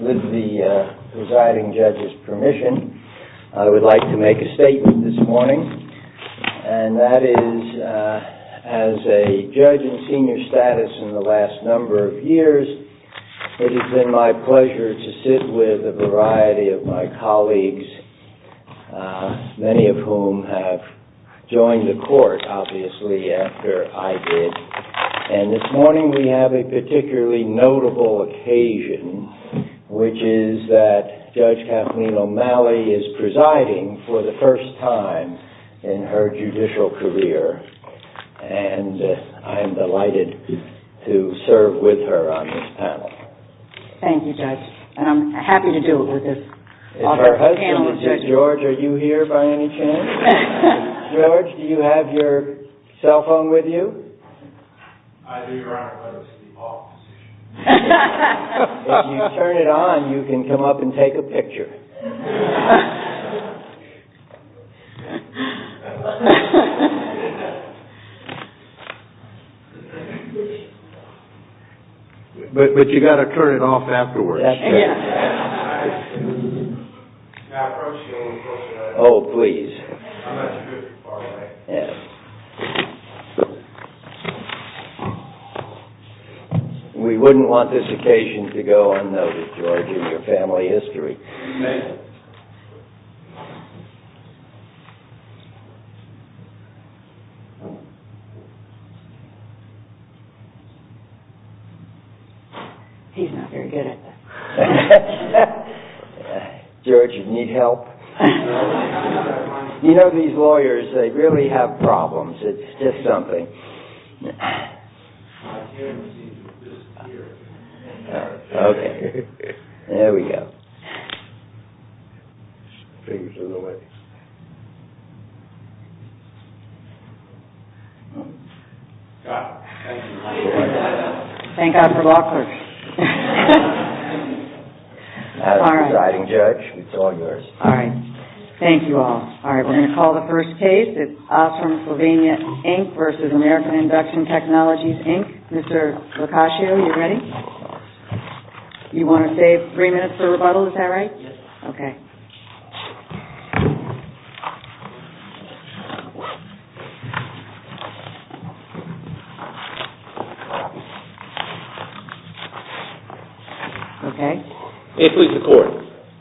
With the presiding judge's permission, I would like to make a statement this morning. And that is, as a judge in senior status in the last number of years, it has been my pleasure to sit with a variety of my colleagues, many of whom have joined the court, obviously, after I did. And this morning we have a particularly notable occasion, which is that Judge Kathleen O'Malley is presiding for the first time in her judicial career. And I am delighted to serve with her on this panel. Thank you, Judge. And I'm happy to do it with this panel. If her husband was here, George, are you here by any chance? George, do you have your cell phone with you? I do, Your Honor, but it's in the off position. If you turn it on, you can come up and take a picture. But you've got to turn it off afterwards. Is that true? Oh, please. We wouldn't want this occasion to go unnoticed, George, in your family history. May I? He's not very good at that. George, you need help? You know, these lawyers, they really have problems. It's just something. I can't seem to disappear. Okay. There we go. Fingers in the way. Got it. Thank you. Thank God for law clerks. As presiding judge, it's all yours. All right. Thank you all. All right. We're going to call the first case. It's Osram Slovenia, Inc. v. American Induction Technologies, Inc. Mr. LoCascio, are you ready? You want to save three minutes for rebuttal. Is that right? Yes. Okay. May it please the Court.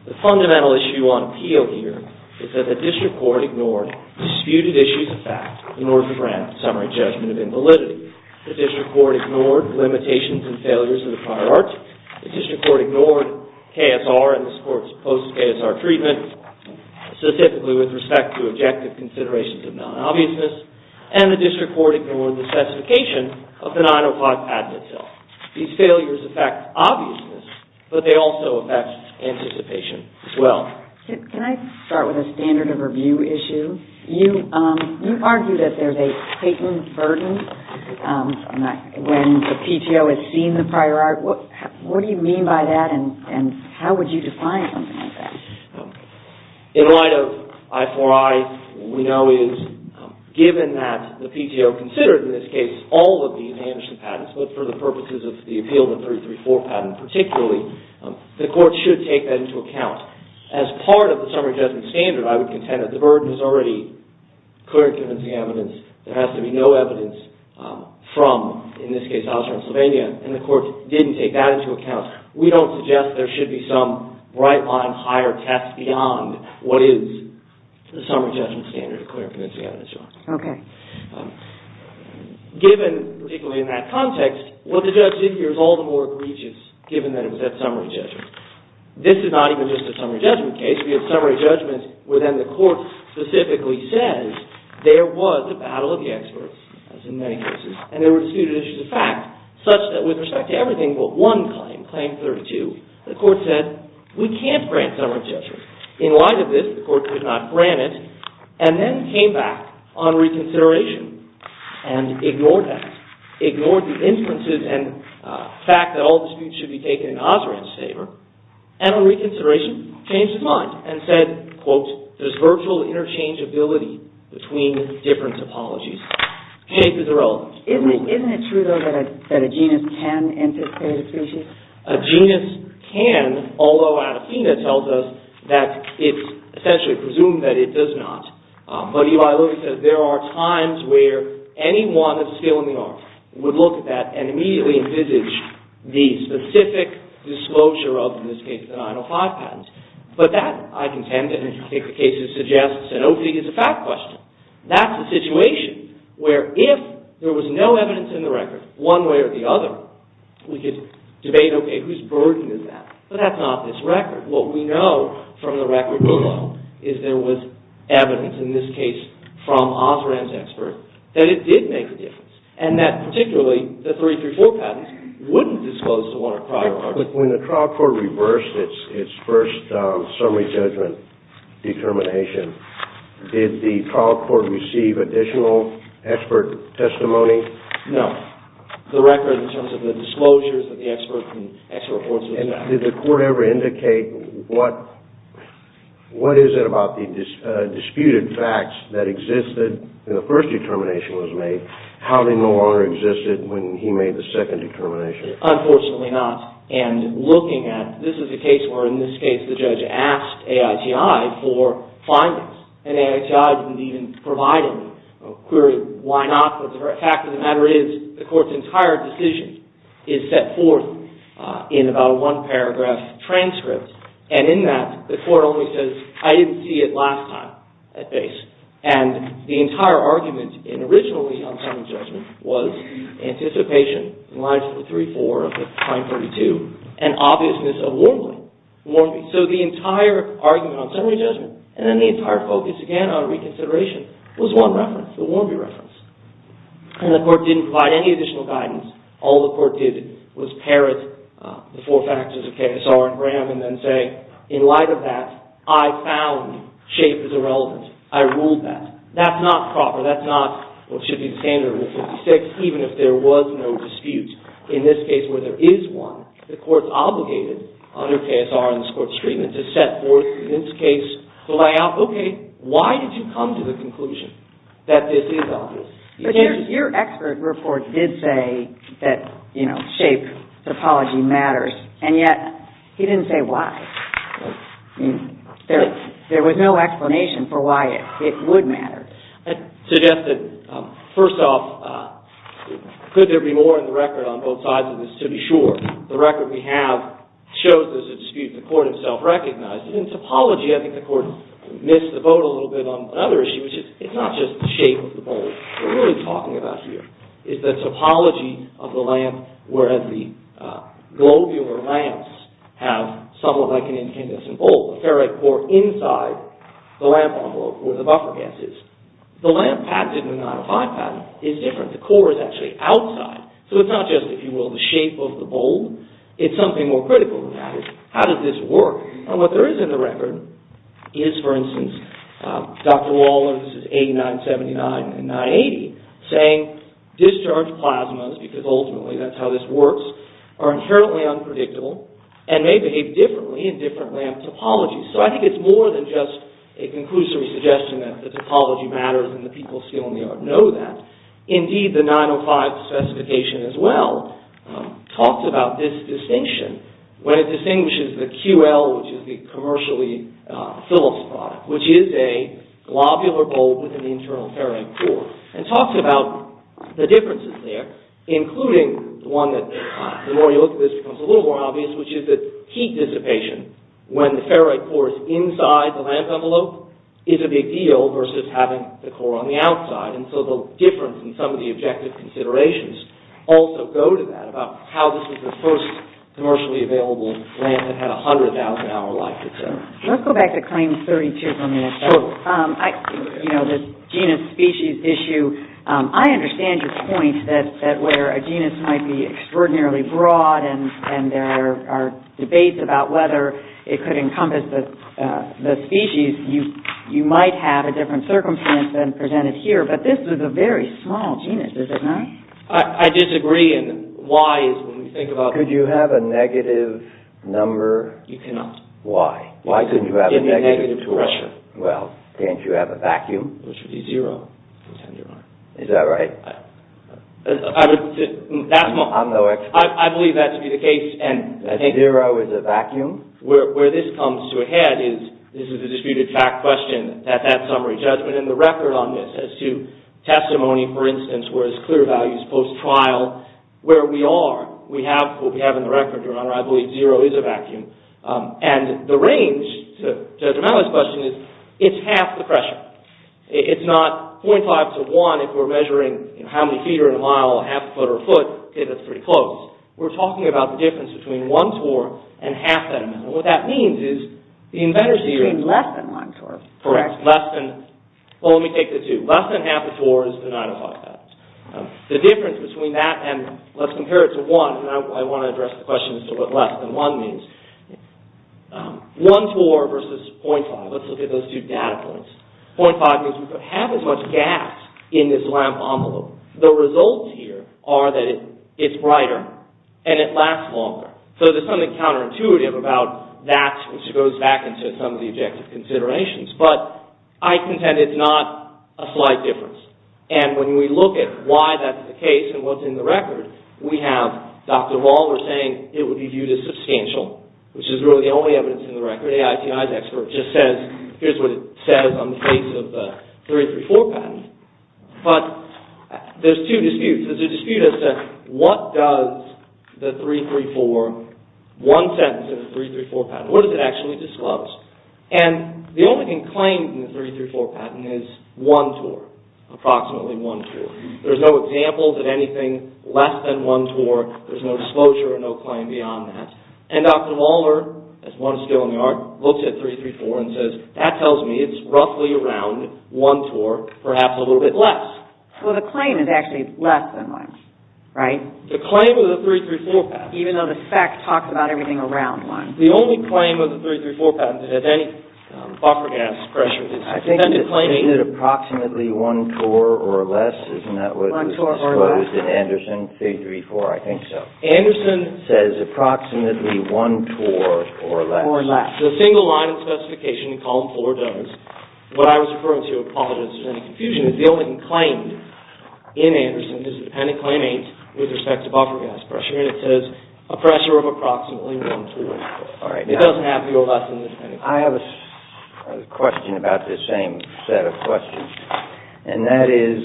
The fundamental issue on appeal here is that the district court ignored disputed issues of fact in order to grant a summary judgment of invalidity. The district court ignored limitations and failures of the prior article. The district court ignored KSR and this Court's post-KSR treatment, specifically with respect to objective considerations of non-obviousness. And the district court ignored the specification of the 905 Padlet bill. These failures affect obviousness, but they also affect anticipation as well. Can I start with a standard of review issue? You argue that there's a patent burden when the PTO has seen the prior art. What do you mean by that and how would you define something like that? In light of I-IV-I, what we know is given that the PTO considered, in this case, all of these amnesty patents, but for the purposes of the appeal of the I-III-IV patent particularly, the Court should take that into account. As part of the summary judgment standard, I would contend that the burden is already clear in convincing evidence. There has to be no evidence from, in this case, Iowa, Pennsylvania. And the Court didn't take that into account. We don't suggest there should be some right-line higher test beyond what is the summary judgment standard of clear convincing evidence. Okay. Given, particularly in that context, what the judge did here is all the more egregious given that it was at summary judgment. This is not even just a summary judgment case. We have summary judgments where then the Court specifically says there was a battle of the experts, as in many cases, and there were disputed issues of fact such that with respect to everything but one claim, Claim 32, the Court said we can't grant summary judgment. In light of this, the Court could not grant it and then came back on reconsideration and ignored that, ignored the inferences and fact that all disputes should be taken in Osram's favor, and on reconsideration changed his mind and said, quote, there's virtual interchangeability between different topologies. Case is irrelevant. Isn't it true, though, that a genus can anticipate a species? A genus can, although Anathena tells us that it's essentially presumed that it does not. But Eli Lilly says there are times where anyone of skill in the art would look at that and immediately envisage the specific disclosure of, in this case, the 905 patent. But that, I contend, and I think the case suggests, and I don't think it's a fact question, that's a situation where if there was no evidence in the record one way or the other, we could debate, okay, who's burdened in that? But that's not this record. What we know from the record below is there was evidence, in this case, from Osram's experts that it did make a difference and that, particularly, the 334 patents wouldn't disclose to one or prior parties. When the trial court reversed its first summary judgment determination, did the trial court receive additional expert testimony? No. The record in terms of the disclosures that the expert reports was not. Did the court ever indicate what is it about the disputed facts that existed when the first determination was made, how they no longer existed when he made the second determination? Unfortunately not. And looking at, this is a case where, in this case, the judge asked AITI for findings. And AITI didn't even provide any. Query, why not? But the fact of the matter is, the court's entire decision is set forth in about a one-paragraph transcript. And in that, the court only says, I didn't see it last time at base. And the entire argument, originally, on summary judgment, was anticipation in line with the 34 of the Crime 32, and obviousness of warming. So the entire argument on summary judgment, and then the entire focus, again, on reconsideration, was one reference, the Warmbier reference. And the court didn't provide any additional guidance. All the court did was parrot the four factors of KSR and Graham, and then say, in light of that, I found shape is irrelevant. I ruled that. That's not proper. That's not what should be the standard of the 56, even if there was no dispute. In this case, where there is one, the court's obligated, under KSR and this court's treatment, to set forth, in this case, the layout. Okay, why did you come to the conclusion that this is obvious? But your expert report did say that shape topology matters. And yet, he didn't say why. There was no explanation for why it would matter. I'd suggest that, first off, could there be more in the record on both sides of this to be sure? The record we have shows there's a dispute. The court himself recognized it. In topology, I think the court missed the boat a little bit on another issue, which is, it's not just the shape of the boat we're really talking about here. It's the topology of the lamp, whereas the globular lamps have somewhat like an incandescent bulb, a ferrite core inside the lamp envelope where the buffer gas is. The lamp patented in the 905 patent is different. The core is actually outside. So it's not just, if you will, the shape of the bulb. It's something more critical than that. How does this work? And what there is in the record is, for instance, Dr. Waller, this is 8979 and 980, saying discharge plasmas, because ultimately that's how this works, are inherently unpredictable and may behave differently in different lamp topologies. So I think it's more than just a conclusory suggestion that the topology matters and the people still in the yard know that. Indeed, the 905 specification, as well, talks about this distinction when it distinguishes the QL, which is the commercially phyllis product, which is a globular bulb with an internal ferrite core, and talks about the differences there, including the one that, the more you look at this, becomes a little more obvious, which is that heat dissipation, when the ferrite core is inside the lamp envelope, is a big deal versus having the core on the outside. And so the difference in some of the objective considerations also go to that, about how this is the first commercially available lamp that had a 100,000-hour life, et cetera. Let's go back to Claim 32 for a minute. Sure. You know, this genus-species issue, I understand your point that where a genus might be extraordinarily broad and there are debates about whether it could encompass the species, you might have a different circumstance than presented here, but this is a very small genus, is it not? I disagree, and why is when we think about... Could you have a negative number? You cannot. Why? Why couldn't you have a negative number? Well, can't you have a vacuum? Which would be zero. Is that right? I believe that to be the case. Zero is a vacuum? Where this comes to a head is, this is a disputed fact question at that summary judgment, and the record on this as to testimony, for instance, where it's clear values post-trial, where we are, what we have in the record, Your Honor, I believe zero is a vacuum. And the range, to address my last question, is it's half the pressure. It's not 0.5 to 1 if we're measuring how many feet are in a mile, half a foot or a foot, okay, that's pretty close. We're talking about the difference between 1 torr and half that amount. What that means is the inventor's theory... It's between less than 1 torr. Correct. Less than... Well, let me take the two. Less than half a torr is the 9,500. The difference between that and, let's compare it to 1, and I want to address the question as to what less than 1 means. 1 torr versus 0.5. Let's look at those two data points. 0.5 means we have as much gas in this lamp envelope. The results here are that it's brighter and it lasts longer. So there's something counterintuitive about that, which goes back into some of the objective considerations, but I contend it's not a slight difference. And when we look at why that's the case and what's in the record, we have Dr. Waller saying it would be viewed as substantial, which is really the only evidence in the record. AITI's expert just says, here's what it says on the face of the 334 patent. But there's two disputes. There's a dispute as to what does the 334, one sentence of the 334 patent, what does it actually disclose? And the only thing claimed in the 334 patent is 1 torr, approximately 1 torr. There's no examples of anything less than 1 torr. There's no disclosure or no claim beyond that. And Dr. Waller, as one skill in the art, looks at 334 and says, that tells me it's roughly around 1 torr, perhaps a little bit less. Well, the claim is actually less than 1, right? The claim of the 334 patent. Even though the fact talks about everything around 1. The only claim of the 334 patent that has any buffer gas pressure is approximately 1 torr or less. Isn't that what was disclosed in Anderson 334? I think so. Anderson says approximately 1 torr or less. The single line specification in column 4 does. What I was referring to, apologies if there's any confusion, is the only thing claimed in Anderson is a dependent claim with respect to buffer gas pressure. And it says a pressure of approximately 1 torr or less. It doesn't have to be less than the dependent claim. I have a question about this same set of questions. And that is,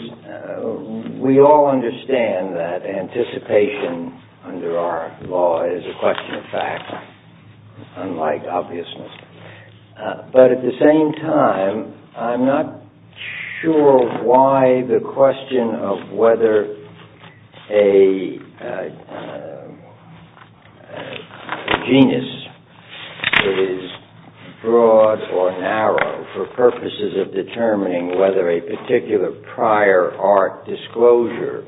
we all understand that anticipation under our law is a question of fact, unlike obviousness. But at the same time, I'm not sure why the question of whether a genus that is broad or narrow for purposes of determining whether a particular prior art disclosure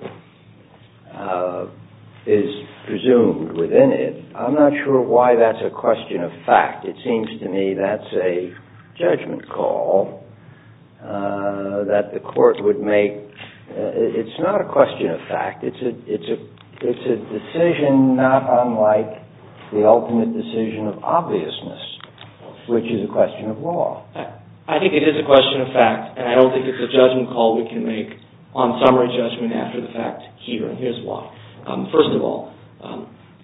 is presumed within it, I'm not sure why that's a question of fact. It seems to me that's a judgment call that the court would make. It's not a question of fact. It's a decision not unlike the ultimate decision of obviousness, which is a question of law. I think it is a question of fact, and I don't think it's a judgment call we can make on summary judgment after the fact here. Here's why. First of all,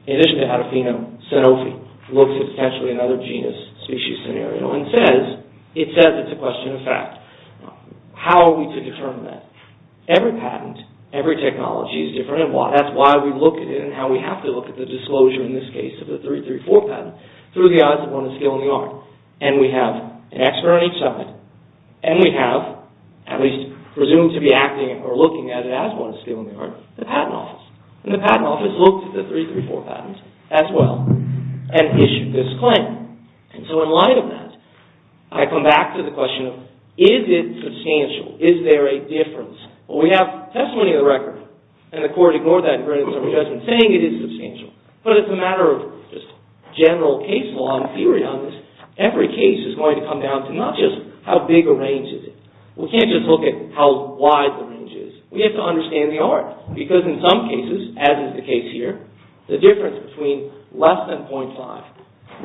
in addition to Adafino, Sanofi looks at potentially another genus species scenario and says it's a question of fact. How are we to determine that? Every patent, every technology is different, and that's why we look at it and how we have to look at the disclosure in this case of the 334 patent through the eyes of one of the skill in the art. And we have an expert on each side, and we have, at least presumed to be acting or looking at it as one of the skill in the art, the patent office. And the patent office looked at the 334 patent as well and issued this claim. And so in light of that, I come back to the question of is it substantial? Is there a difference? Well, we have testimony of the record, and the court ignored that in terms of saying it is substantial. But it's a matter of just general case law and theory on this. Every case is going to come down to not just how big a range is it. We can't just look at how wide the range is. We have to understand the art, because in some cases, as is the case here, the difference between less than 0.5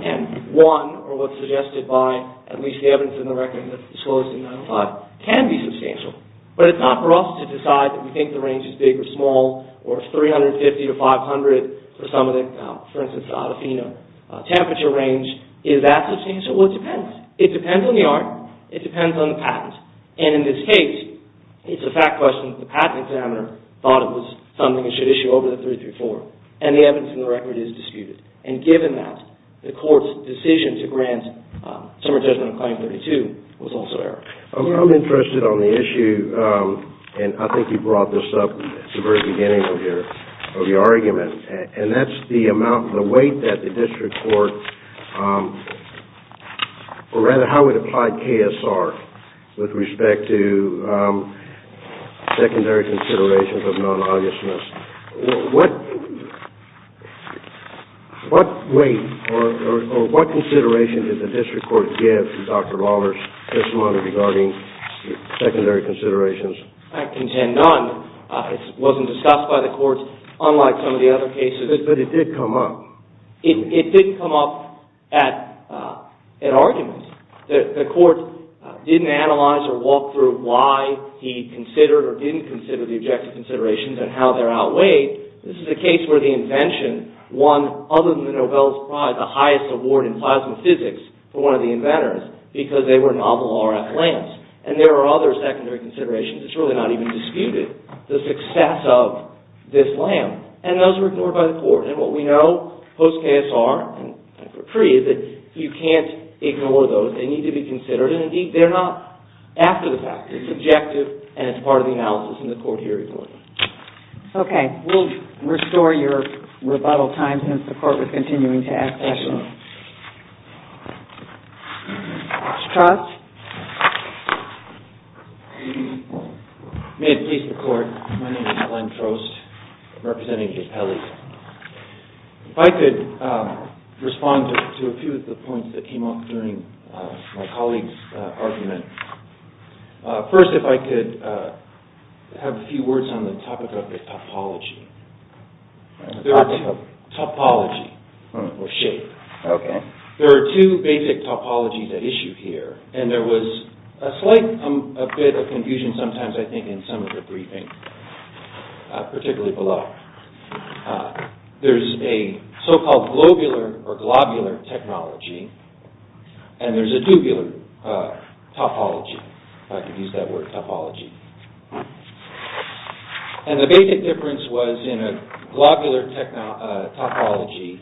and one, or what's suggested by at least the evidence in the record that's the slowest in 95, can be substantial. But it's not for us to decide that we think the range is big or small, or 350 to 500 for some of the, for instance, Adafino, temperature range. Is that substantial? Well, it depends. It depends on the art. It depends on the patent. And in this case, it's a fact question. The patent examiner thought it was something that should issue over the 334. And the evidence in the record is disputed. And given that, the court's decision to grant a summary judgment on claim 32 was also error. I'm interested on the issue, and I think you brought this up at the very beginning of your argument, and that's the amount, the weight that the district court, or rather how it applied KSR with respect to secondary considerations of non-obviousness. What weight or what consideration did the district court give to Dr. Lawler's testimony regarding secondary considerations? I contend none. It wasn't discussed by the courts, unlike some of the other cases. But it did come up. It didn't come up at arguments. The court didn't analyze or walk through why he considered or didn't consider the objective considerations and how they're outweighed. This is a case where the invention won, other than the Nobel Prize, the highest award in plasma physics for one of the inventors because they were novel RF lamps. And there are other secondary considerations. It's really not even disputed, the success of this lamp. And those were ignored by the court. And what we know post-KSR and pre- is that you can't ignore those. They need to be considered. And indeed, they're not after the fact. It's objective, and it's part of the analysis, and the court here ignored it. OK. continuing to ask questions. Excellent. Scott? May it please the court. My name is Glenn Trost, representing Capelli. If I could respond to a few of the points that came up during my colleague's argument. First, if I could have a few words on the topic of topology. Topology. Topology or shape. OK. There are two basic topologies at issue here. And there was a slight bit of confusion sometimes, I think, in some of the briefing, particularly below. There's a so-called globular or globular technology. And there's a tubular topology, if I could use that word, topology. And the basic difference was in a globular topology,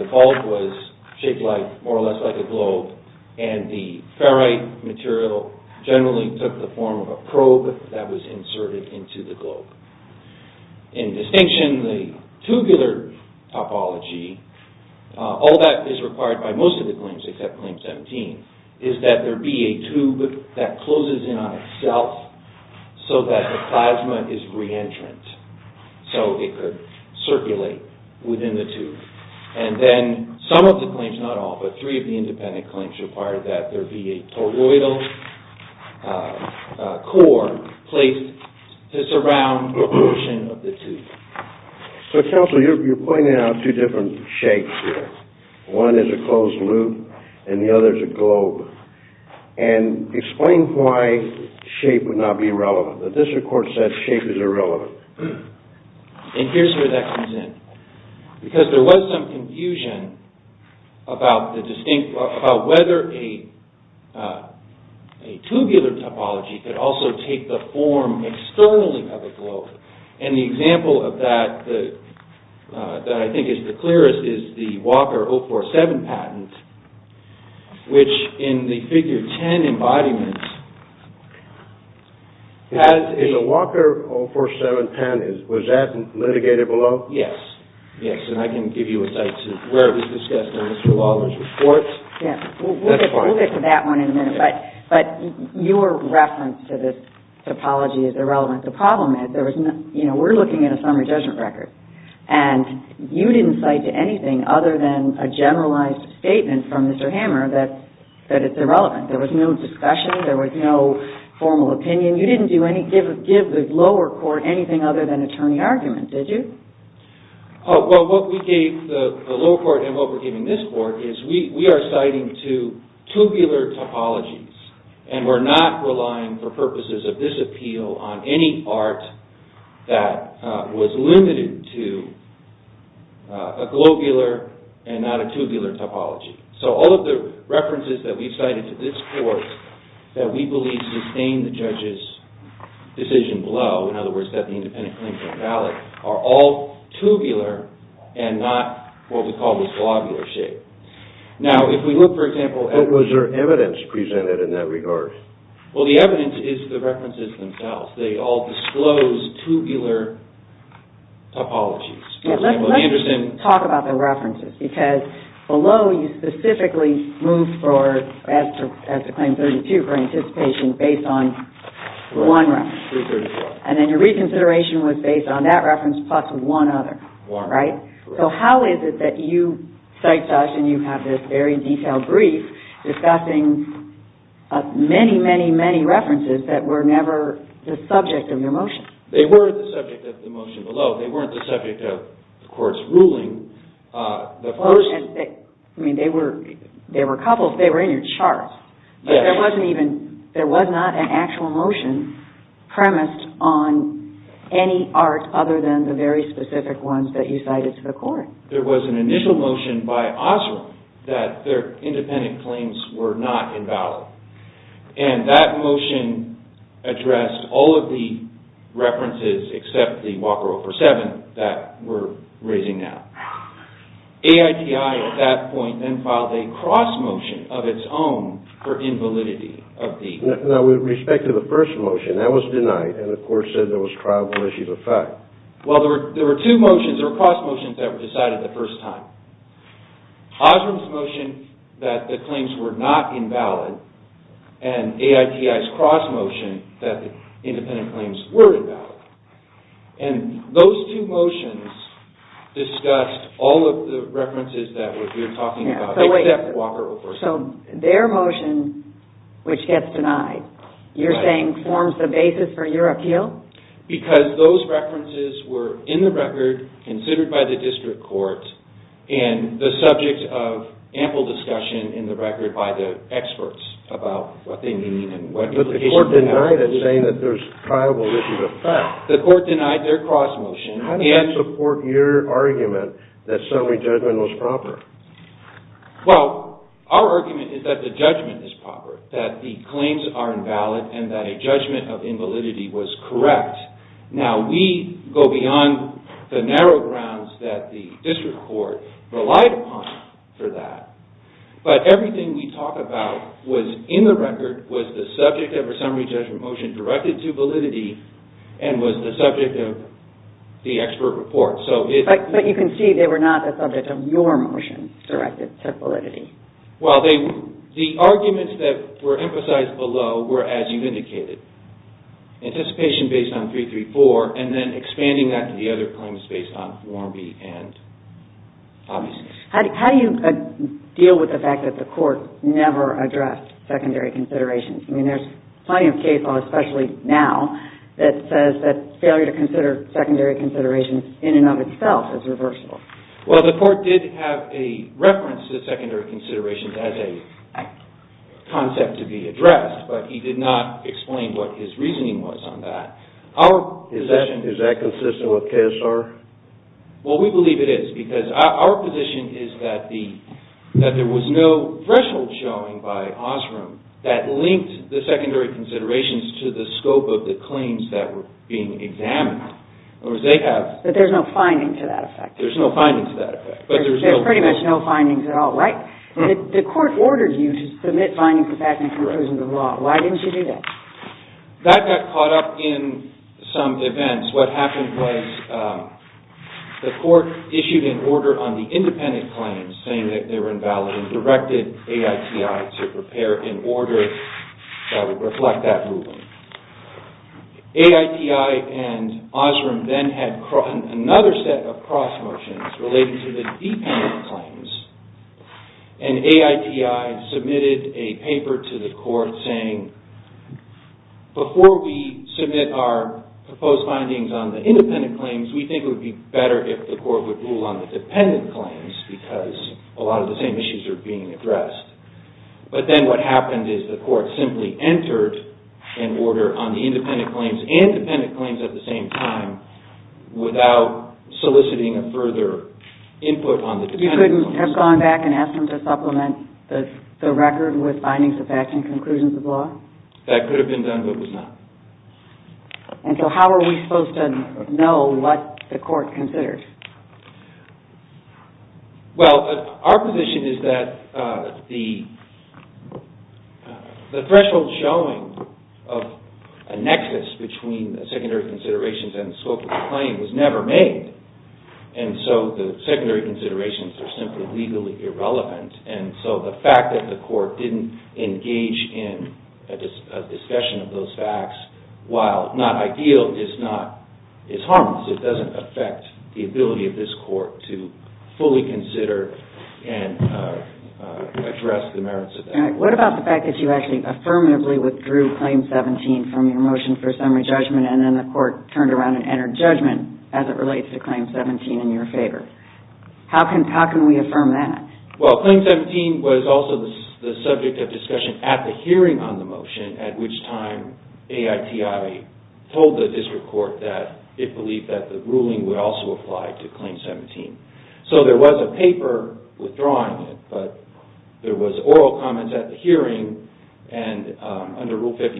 the bulk was shaped more or less like a globe, and the ferrite material generally took the form of a probe that was inserted into the globe. In distinction, the tubular topology, all that is required by most of the claims except Claim 17, is that there be a tube that closes in on itself so that the plasma is re-entrant, so it could circulate within the tube. And then some of the claims, not all, but three of the independent claims required that there be a toroidal core placed to surround a portion of the tube. So, counsel, you're pointing out two different shapes here. One is a closed loop and the other is a globe. And explain why shape would not be relevant. The district court said shape is irrelevant. And here's where that comes in. Because there was some confusion about whether a tubular topology could also take the form externally of a globe. And the example of that that I think is the clearest is the Walker 047 patent, which in the Figure 10 embodiment has a Walker 047 patent. Was that litigated below? Yes. Yes. And I can give you a cite to where it was discussed in Mr. Lawler's report. Yes. We'll get to that one in a minute. But your reference to this topology is irrelevant. The problem is we're looking at a summary judgment record. And you didn't cite to anything other than a generalized statement from Mr. Hammer that it's irrelevant. There was no discussion. There was no formal opinion. You didn't give the lower court anything other than attorney argument, did you? Well, what we gave the lower court and what we're giving this court is we are citing to tubular topologies. And we're not relying for purposes of this appeal on any art that was limited to a globular and not a tubular topology. So all of the references that we've cited to this court that we believe sustain the judge's decision below, in other words, that the independent claims aren't valid, are all tubular and not what we call the globular shape. Now, if we look, for example... What was your evidence presented in that regard? Well, the evidence is the references themselves. They all disclose tubular topologies. Let's just talk about the references because below you specifically move for, as to Claim 32, for anticipation based on one reference. And then your reconsideration was based on that reference plus one other, right? So how is it that you cite such and you have this very detailed brief discussing many, many, many references that were never the subject of your motion? They weren't the subject of the motion below. They weren't the subject of the court's ruling. I mean, they were in your charts, but there was not an actual motion premised on any art other than the very specific ones that you cited to the court. There was an initial motion by Osram that their independent claims were not invalid. And that motion addressed all of the references except the Walker 047 that we're raising now. AITI at that point then filed a cross motion of its own for invalidity of the... Now, with respect to the first motion, that was denied. And the court said there was triable issues of fact. Well, there were two motions. There were cross motions that were decided the first time. Osram's motion that the claims were not invalid and AITI's cross motion that the independent claims were invalid. And those two motions discussed all of the references that we're talking about except Walker 047. So their motion, which gets denied, you're saying forms the basis for your appeal? Because those references were in the record, considered by the district court, and the subject of ample discussion in the record by the experts about what they mean and what implications... But the court denied it, saying that there's triable issues of fact. The court denied their cross motion. How does that support your argument that summary judgment was proper? Well, our argument is that the judgment is proper, that the claims are invalid and that a judgment of invalidity was correct. Now, we go beyond the narrow grounds that the district court relied upon for that. But everything we talk about was in the record, was the subject of a summary judgment motion directed to validity, and was the subject of the expert report. But you can see they were not the subject of your motion directed to validity. Well, the arguments that were emphasized below were as you indicated. Anticipation based on 334, and then expanding that to the other claims based on Form B and Obviousness. How do you deal with the fact that the court never addressed secondary considerations? I mean, there's plenty of case law, especially now, that says that failure to consider secondary considerations in and of itself is reversible. Well, the court did have a reference to secondary considerations as a concept to be addressed, but he did not explain what his reasoning was on that. Our position... Is that consistent with KSR? Well, we believe it is because our position is that there was no threshold showing by Osram that linked the secondary considerations to the scope of the claims that were being examined. In other words, they have... But there's no finding to that effect. There's no finding to that effect. There's pretty much no findings at all, right? The court ordered you to submit findings to FACMA conclusions of law. Why didn't you do that? That got caught up in some events. What happened was the court issued an order on the independent claims saying that they were invalid and directed AITI to prepare an order that would reflect that ruling. AITI and Osram then had another set of cross motions related to the dependent claims, and AITI submitted a paper to the court saying, before we submit our proposed findings on the independent claims, we think it would be better if the court would rule on the dependent claims because a lot of the same issues are being addressed. But then what happened is the court simply entered an order on the independent claims and dependent claims at the same time without soliciting a further input on the dependent claims. You couldn't have gone back and asked them to supplement the record with findings of FACMA conclusions of law? That could have been done, but it was not. And so how are we supposed to know what the court considered? Well, our position is that the threshold showing of a nexus between the secondary considerations and the scope of the claim was never made. And so the secondary considerations are simply legally irrelevant. And so the fact that the court didn't engage in a discussion of those facts, while not ideal, is harmless. It doesn't affect the ability of this court to fully consider and address the merits of that. What about the fact that you actually affirmatively withdrew Claim 17 from your motion for summary judgment and then the court turned around and entered judgment as it relates to Claim 17 in your favor? How can we affirm that? Well, Claim 17 was also the subject of discussion at the hearing on the motion at which time AITI told the district court that it believed that the ruling would also apply to Claim 17. So there was a paper withdrawing it, but there was oral comments at the hearing and under Rule 56,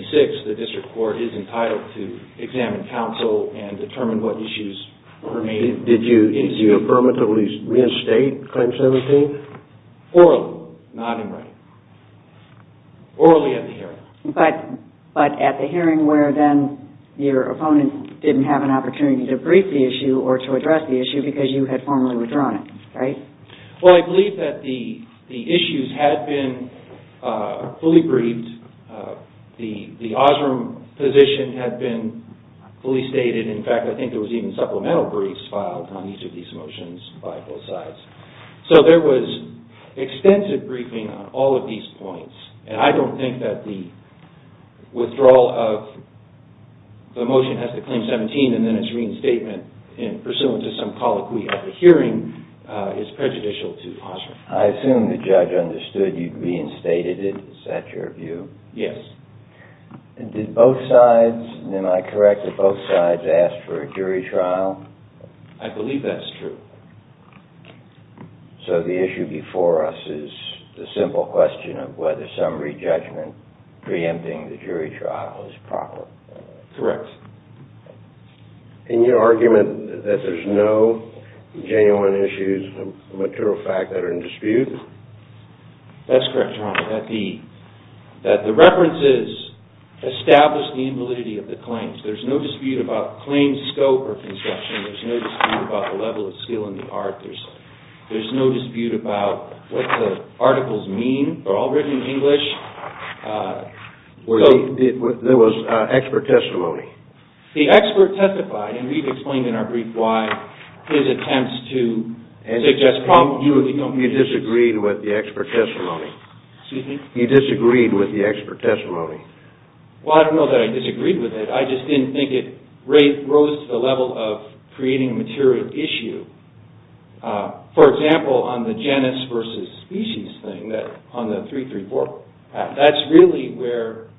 the district court is entitled to examine counsel and determine what issues were made. Did you affirmatively reinstate Claim 17? Orally, not in writing. Orally at the hearing. But at the hearing where then your opponent didn't have an opportunity to brief the issue or to address the issue because you had formally withdrawn it, right? Well, I believe that the issues had been fully briefed. The Osram position had been fully stated. In fact, I think there was even supplemental briefs filed on each of these motions by both sides. So there was extensive briefing on all of these points. And I don't think that the withdrawal of the motion as to Claim 17 and then its reinstatement pursuant to some colloquy at the hearing is prejudicial to Osram. I assume the judge understood you'd reinstated it. Is that your view? Yes. Did both sides, and am I correct that both sides asked for a jury trial? I believe that's true. So the issue before us is the simple question of whether summary judgment preempting the jury trial is proper. Correct. And your argument that there's no genuine issues of material fact that are in dispute? That's correct, Your Honor. That the references establish the invalidity of the claims. There's no dispute about claims scope or conception. There's no dispute about the level of skill in the art. There's no dispute about what the articles mean. They're all written in English. There was expert testimony. The expert testified, and we've explained in our brief why his attempts to suggest promptly... You disagreed with the expert testimony. Excuse me? You disagreed with the expert testimony. Well, I don't know that I disagreed with it. I just didn't think it rose to the level of creating a material issue. For example, on the genus versus species thing, on the 3-3-4 act, that's really where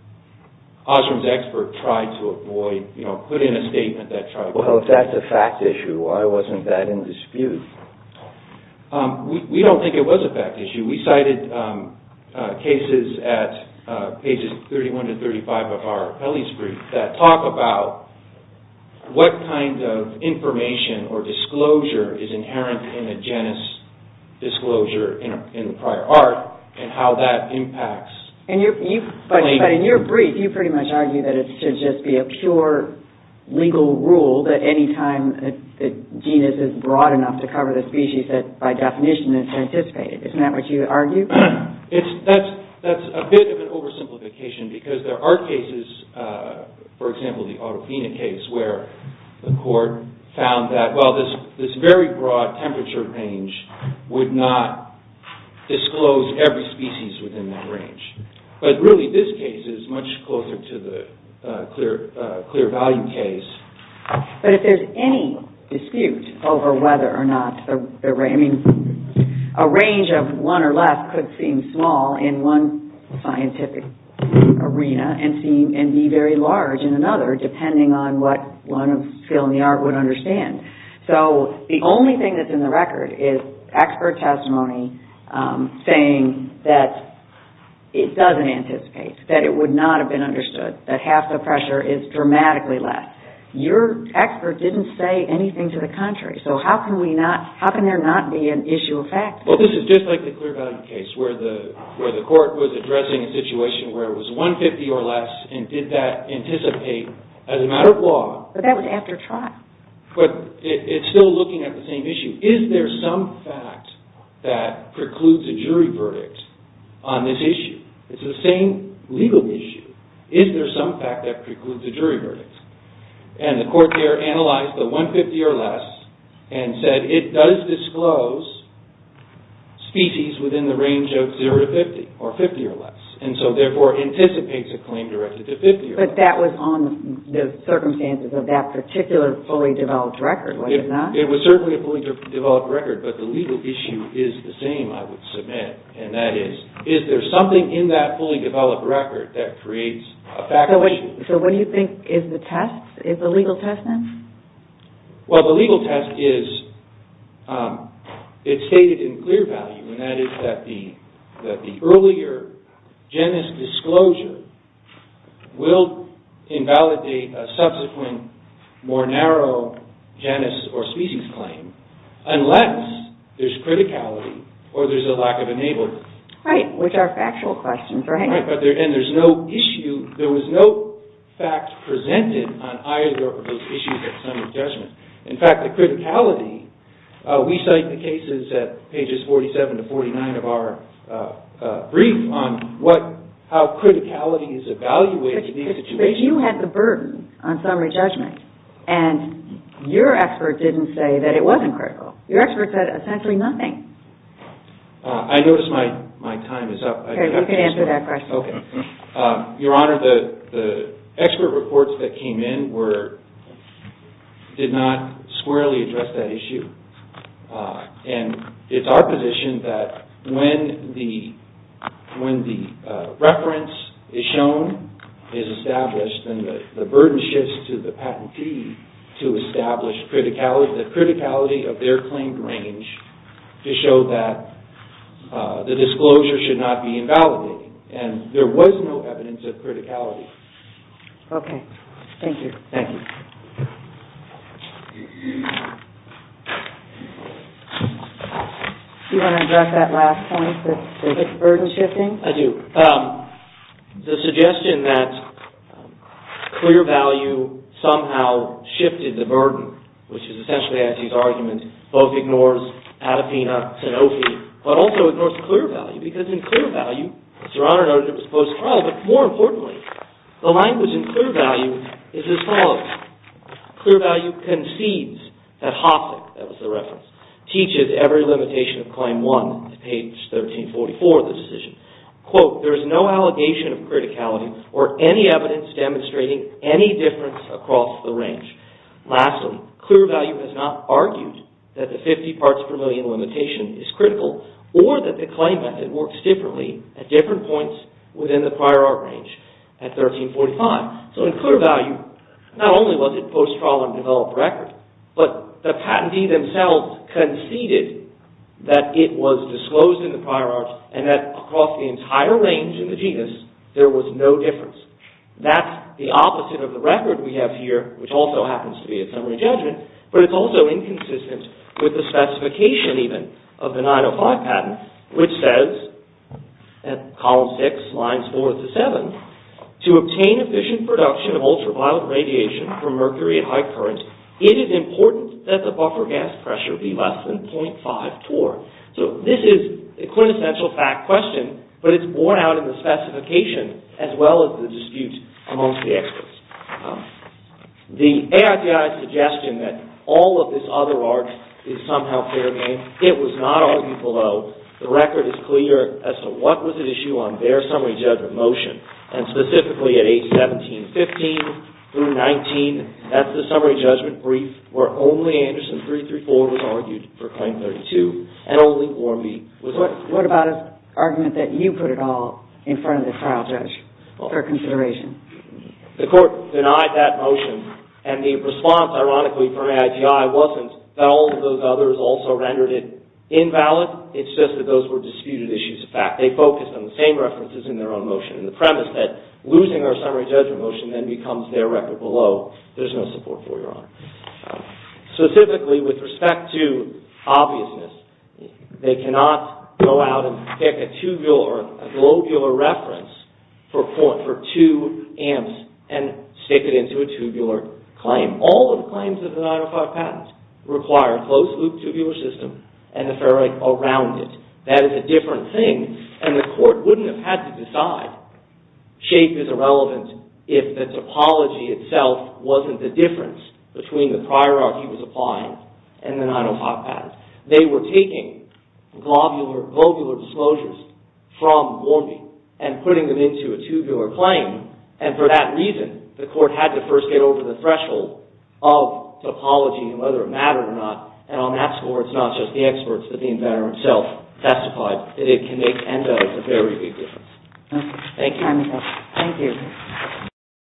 Osram's expert tried to avoid, you know, put in a statement that tried to... Well, if that's a fact issue, why wasn't that in dispute? We don't think it was a fact issue. We cited cases at pages 31 to 35 of our appellee's brief that talk about what kind of information or disclosure is inherent in a genus disclosure in the prior art and how that impacts... But in your brief, you pretty much argue that it should just be a pure legal rule that any time the genus is broad enough to cover the species, by definition, it's anticipated. Isn't that what you argue? That's a bit of an oversimplification because there are cases, for example, the Autophenia case, where the court found that while this very broad temperature range would not disclose every species within that range. But really, this case is much closer to the clear value case. But if there's any dispute over whether or not... I mean, a range of one or less could seem small in one scientific arena and be very large in another depending on what anyone of skill in the art would understand. So the only thing that's in the record is expert testimony saying that it doesn't anticipate, that it would not have been understood, that half the pressure is dramatically less. Your expert didn't say anything to the contrary. So how can we not... How can there not be an issue of fact? Well, this is just like the clear value case where the court was addressing a situation where it was 150 or less and did that anticipate as a matter of law. But that was after trial. But it's still looking at the same issue. Is there some fact that precludes a jury verdict on this issue? It's the same legal issue. Is there some fact that precludes a jury verdict? And the court there analyzed the 150 or less and said it does disclose species within the range of zero to 50 or 50 or less. And so therefore, it anticipates a claim directed to 50 or less. But that was on the circumstances of that particular fully-developed record, was it not? It was certainly a fully-developed record. But the legal issue is the same, I would submit. And that is, is there something in that fully-developed record that creates a fact issue? So what do you think is the test? Is the legal test then? Well, the legal test is it's stated in clear value. And that is that the earlier genus disclosure will invalidate a subsequent more narrow genus or species claim unless there's criticality or there's a lack of enablement. Right. Which are factual questions, right? Right. And there's no issue, there was no fact presented on either of those issues at summit judgment. In fact, the criticality, we cite the cases at pages 47 to 49 of our brief on how criticality is evaluated in these situations. But you had the burden on summary judgment. And your expert didn't say that it wasn't critical. Your expert said essentially nothing. I notice my time is up. You can answer that question. Okay. Your Honor, the expert reports that came in were, did not squarely address that issue. And it's our position that when the reference is shown, is established, then the burden shifts to the patentee to establish the criticality of their claimed range to show that the disclosure should not be invalidated. And there was no evidence of criticality. Okay. Thank you. Thank you. Do you want to address that last point, the burden shifting? I do. The suggestion that clear value somehow shifted the burden, which is essentially as these arguments, both ignores Adepina, Sanofi, but also ignores clear value. Because in clear value, as Your Honor noted, it was post-trial. But more importantly, the language in clear value is as follows. Clear value concedes that Hoffman, that was the reference, teaches every limitation of claim one to page 1344 of the decision. Quote, there is no allegation of criticality or any evidence demonstrating any difference across the range. Lastly, clear value has not argued that the 50 parts per million limitation is critical or that the claim method works differently at different points within the prior art range at 1345. So in clear value, not only was it post-trial and developed record, but the patentee themselves conceded that it was disclosed in the prior art and that across the entire range in the genus, there was no difference. That's the opposite of the record we have here, which also happens to be a summary judgment, but it's also inconsistent with the specification even of the 905 patent, which says at column six, lines four to seven, to obtain efficient production of ultraviolet radiation from mercury at high current, it is important that the buffer gas pressure be less than .5 torr. So this is a quintessential fact question, but it's borne out in the specification as well as the dispute amongst the experts. The AITI's suggestion that all of this other art is somehow fair game, it was not argued below. The record is clear as to what was at issue on their summary judgment motion, and specifically at age 1715 through 19, that's the summary judgment brief where only Anderson 334 was argued for claim 32 and only Warmbie was argued. What about the argument that you put it all in front of the trial judge for consideration? The court denied that motion and the response ironically from AITI wasn't that all of those others also rendered it invalid, it's just that those were disputed issues of fact. They focused on the same references in their own motion and the premise that losing our summary judgment motion then becomes their record below, there's no support for your honor. Specifically with respect to obviousness, they cannot go out and pick a tubular or a globular reference for two amps and stick it into a tubular claim. All of the claims of the 905 patent require a closed loop tubular system and a ferrite around it. That is a different thing, and the court wouldn't have had to decide. Shape is irrelevant if the topology itself wasn't the difference between the prior art he was applying and the 905 patent. They were taking globular disclosures from Warmbier and putting them into a tubular claim, and for that reason the court had to first get over the threshold of topology and whether it mattered or not, and on that score it's not just the experts, but the inventor himself testified that it can make and does a very big difference. Thank you.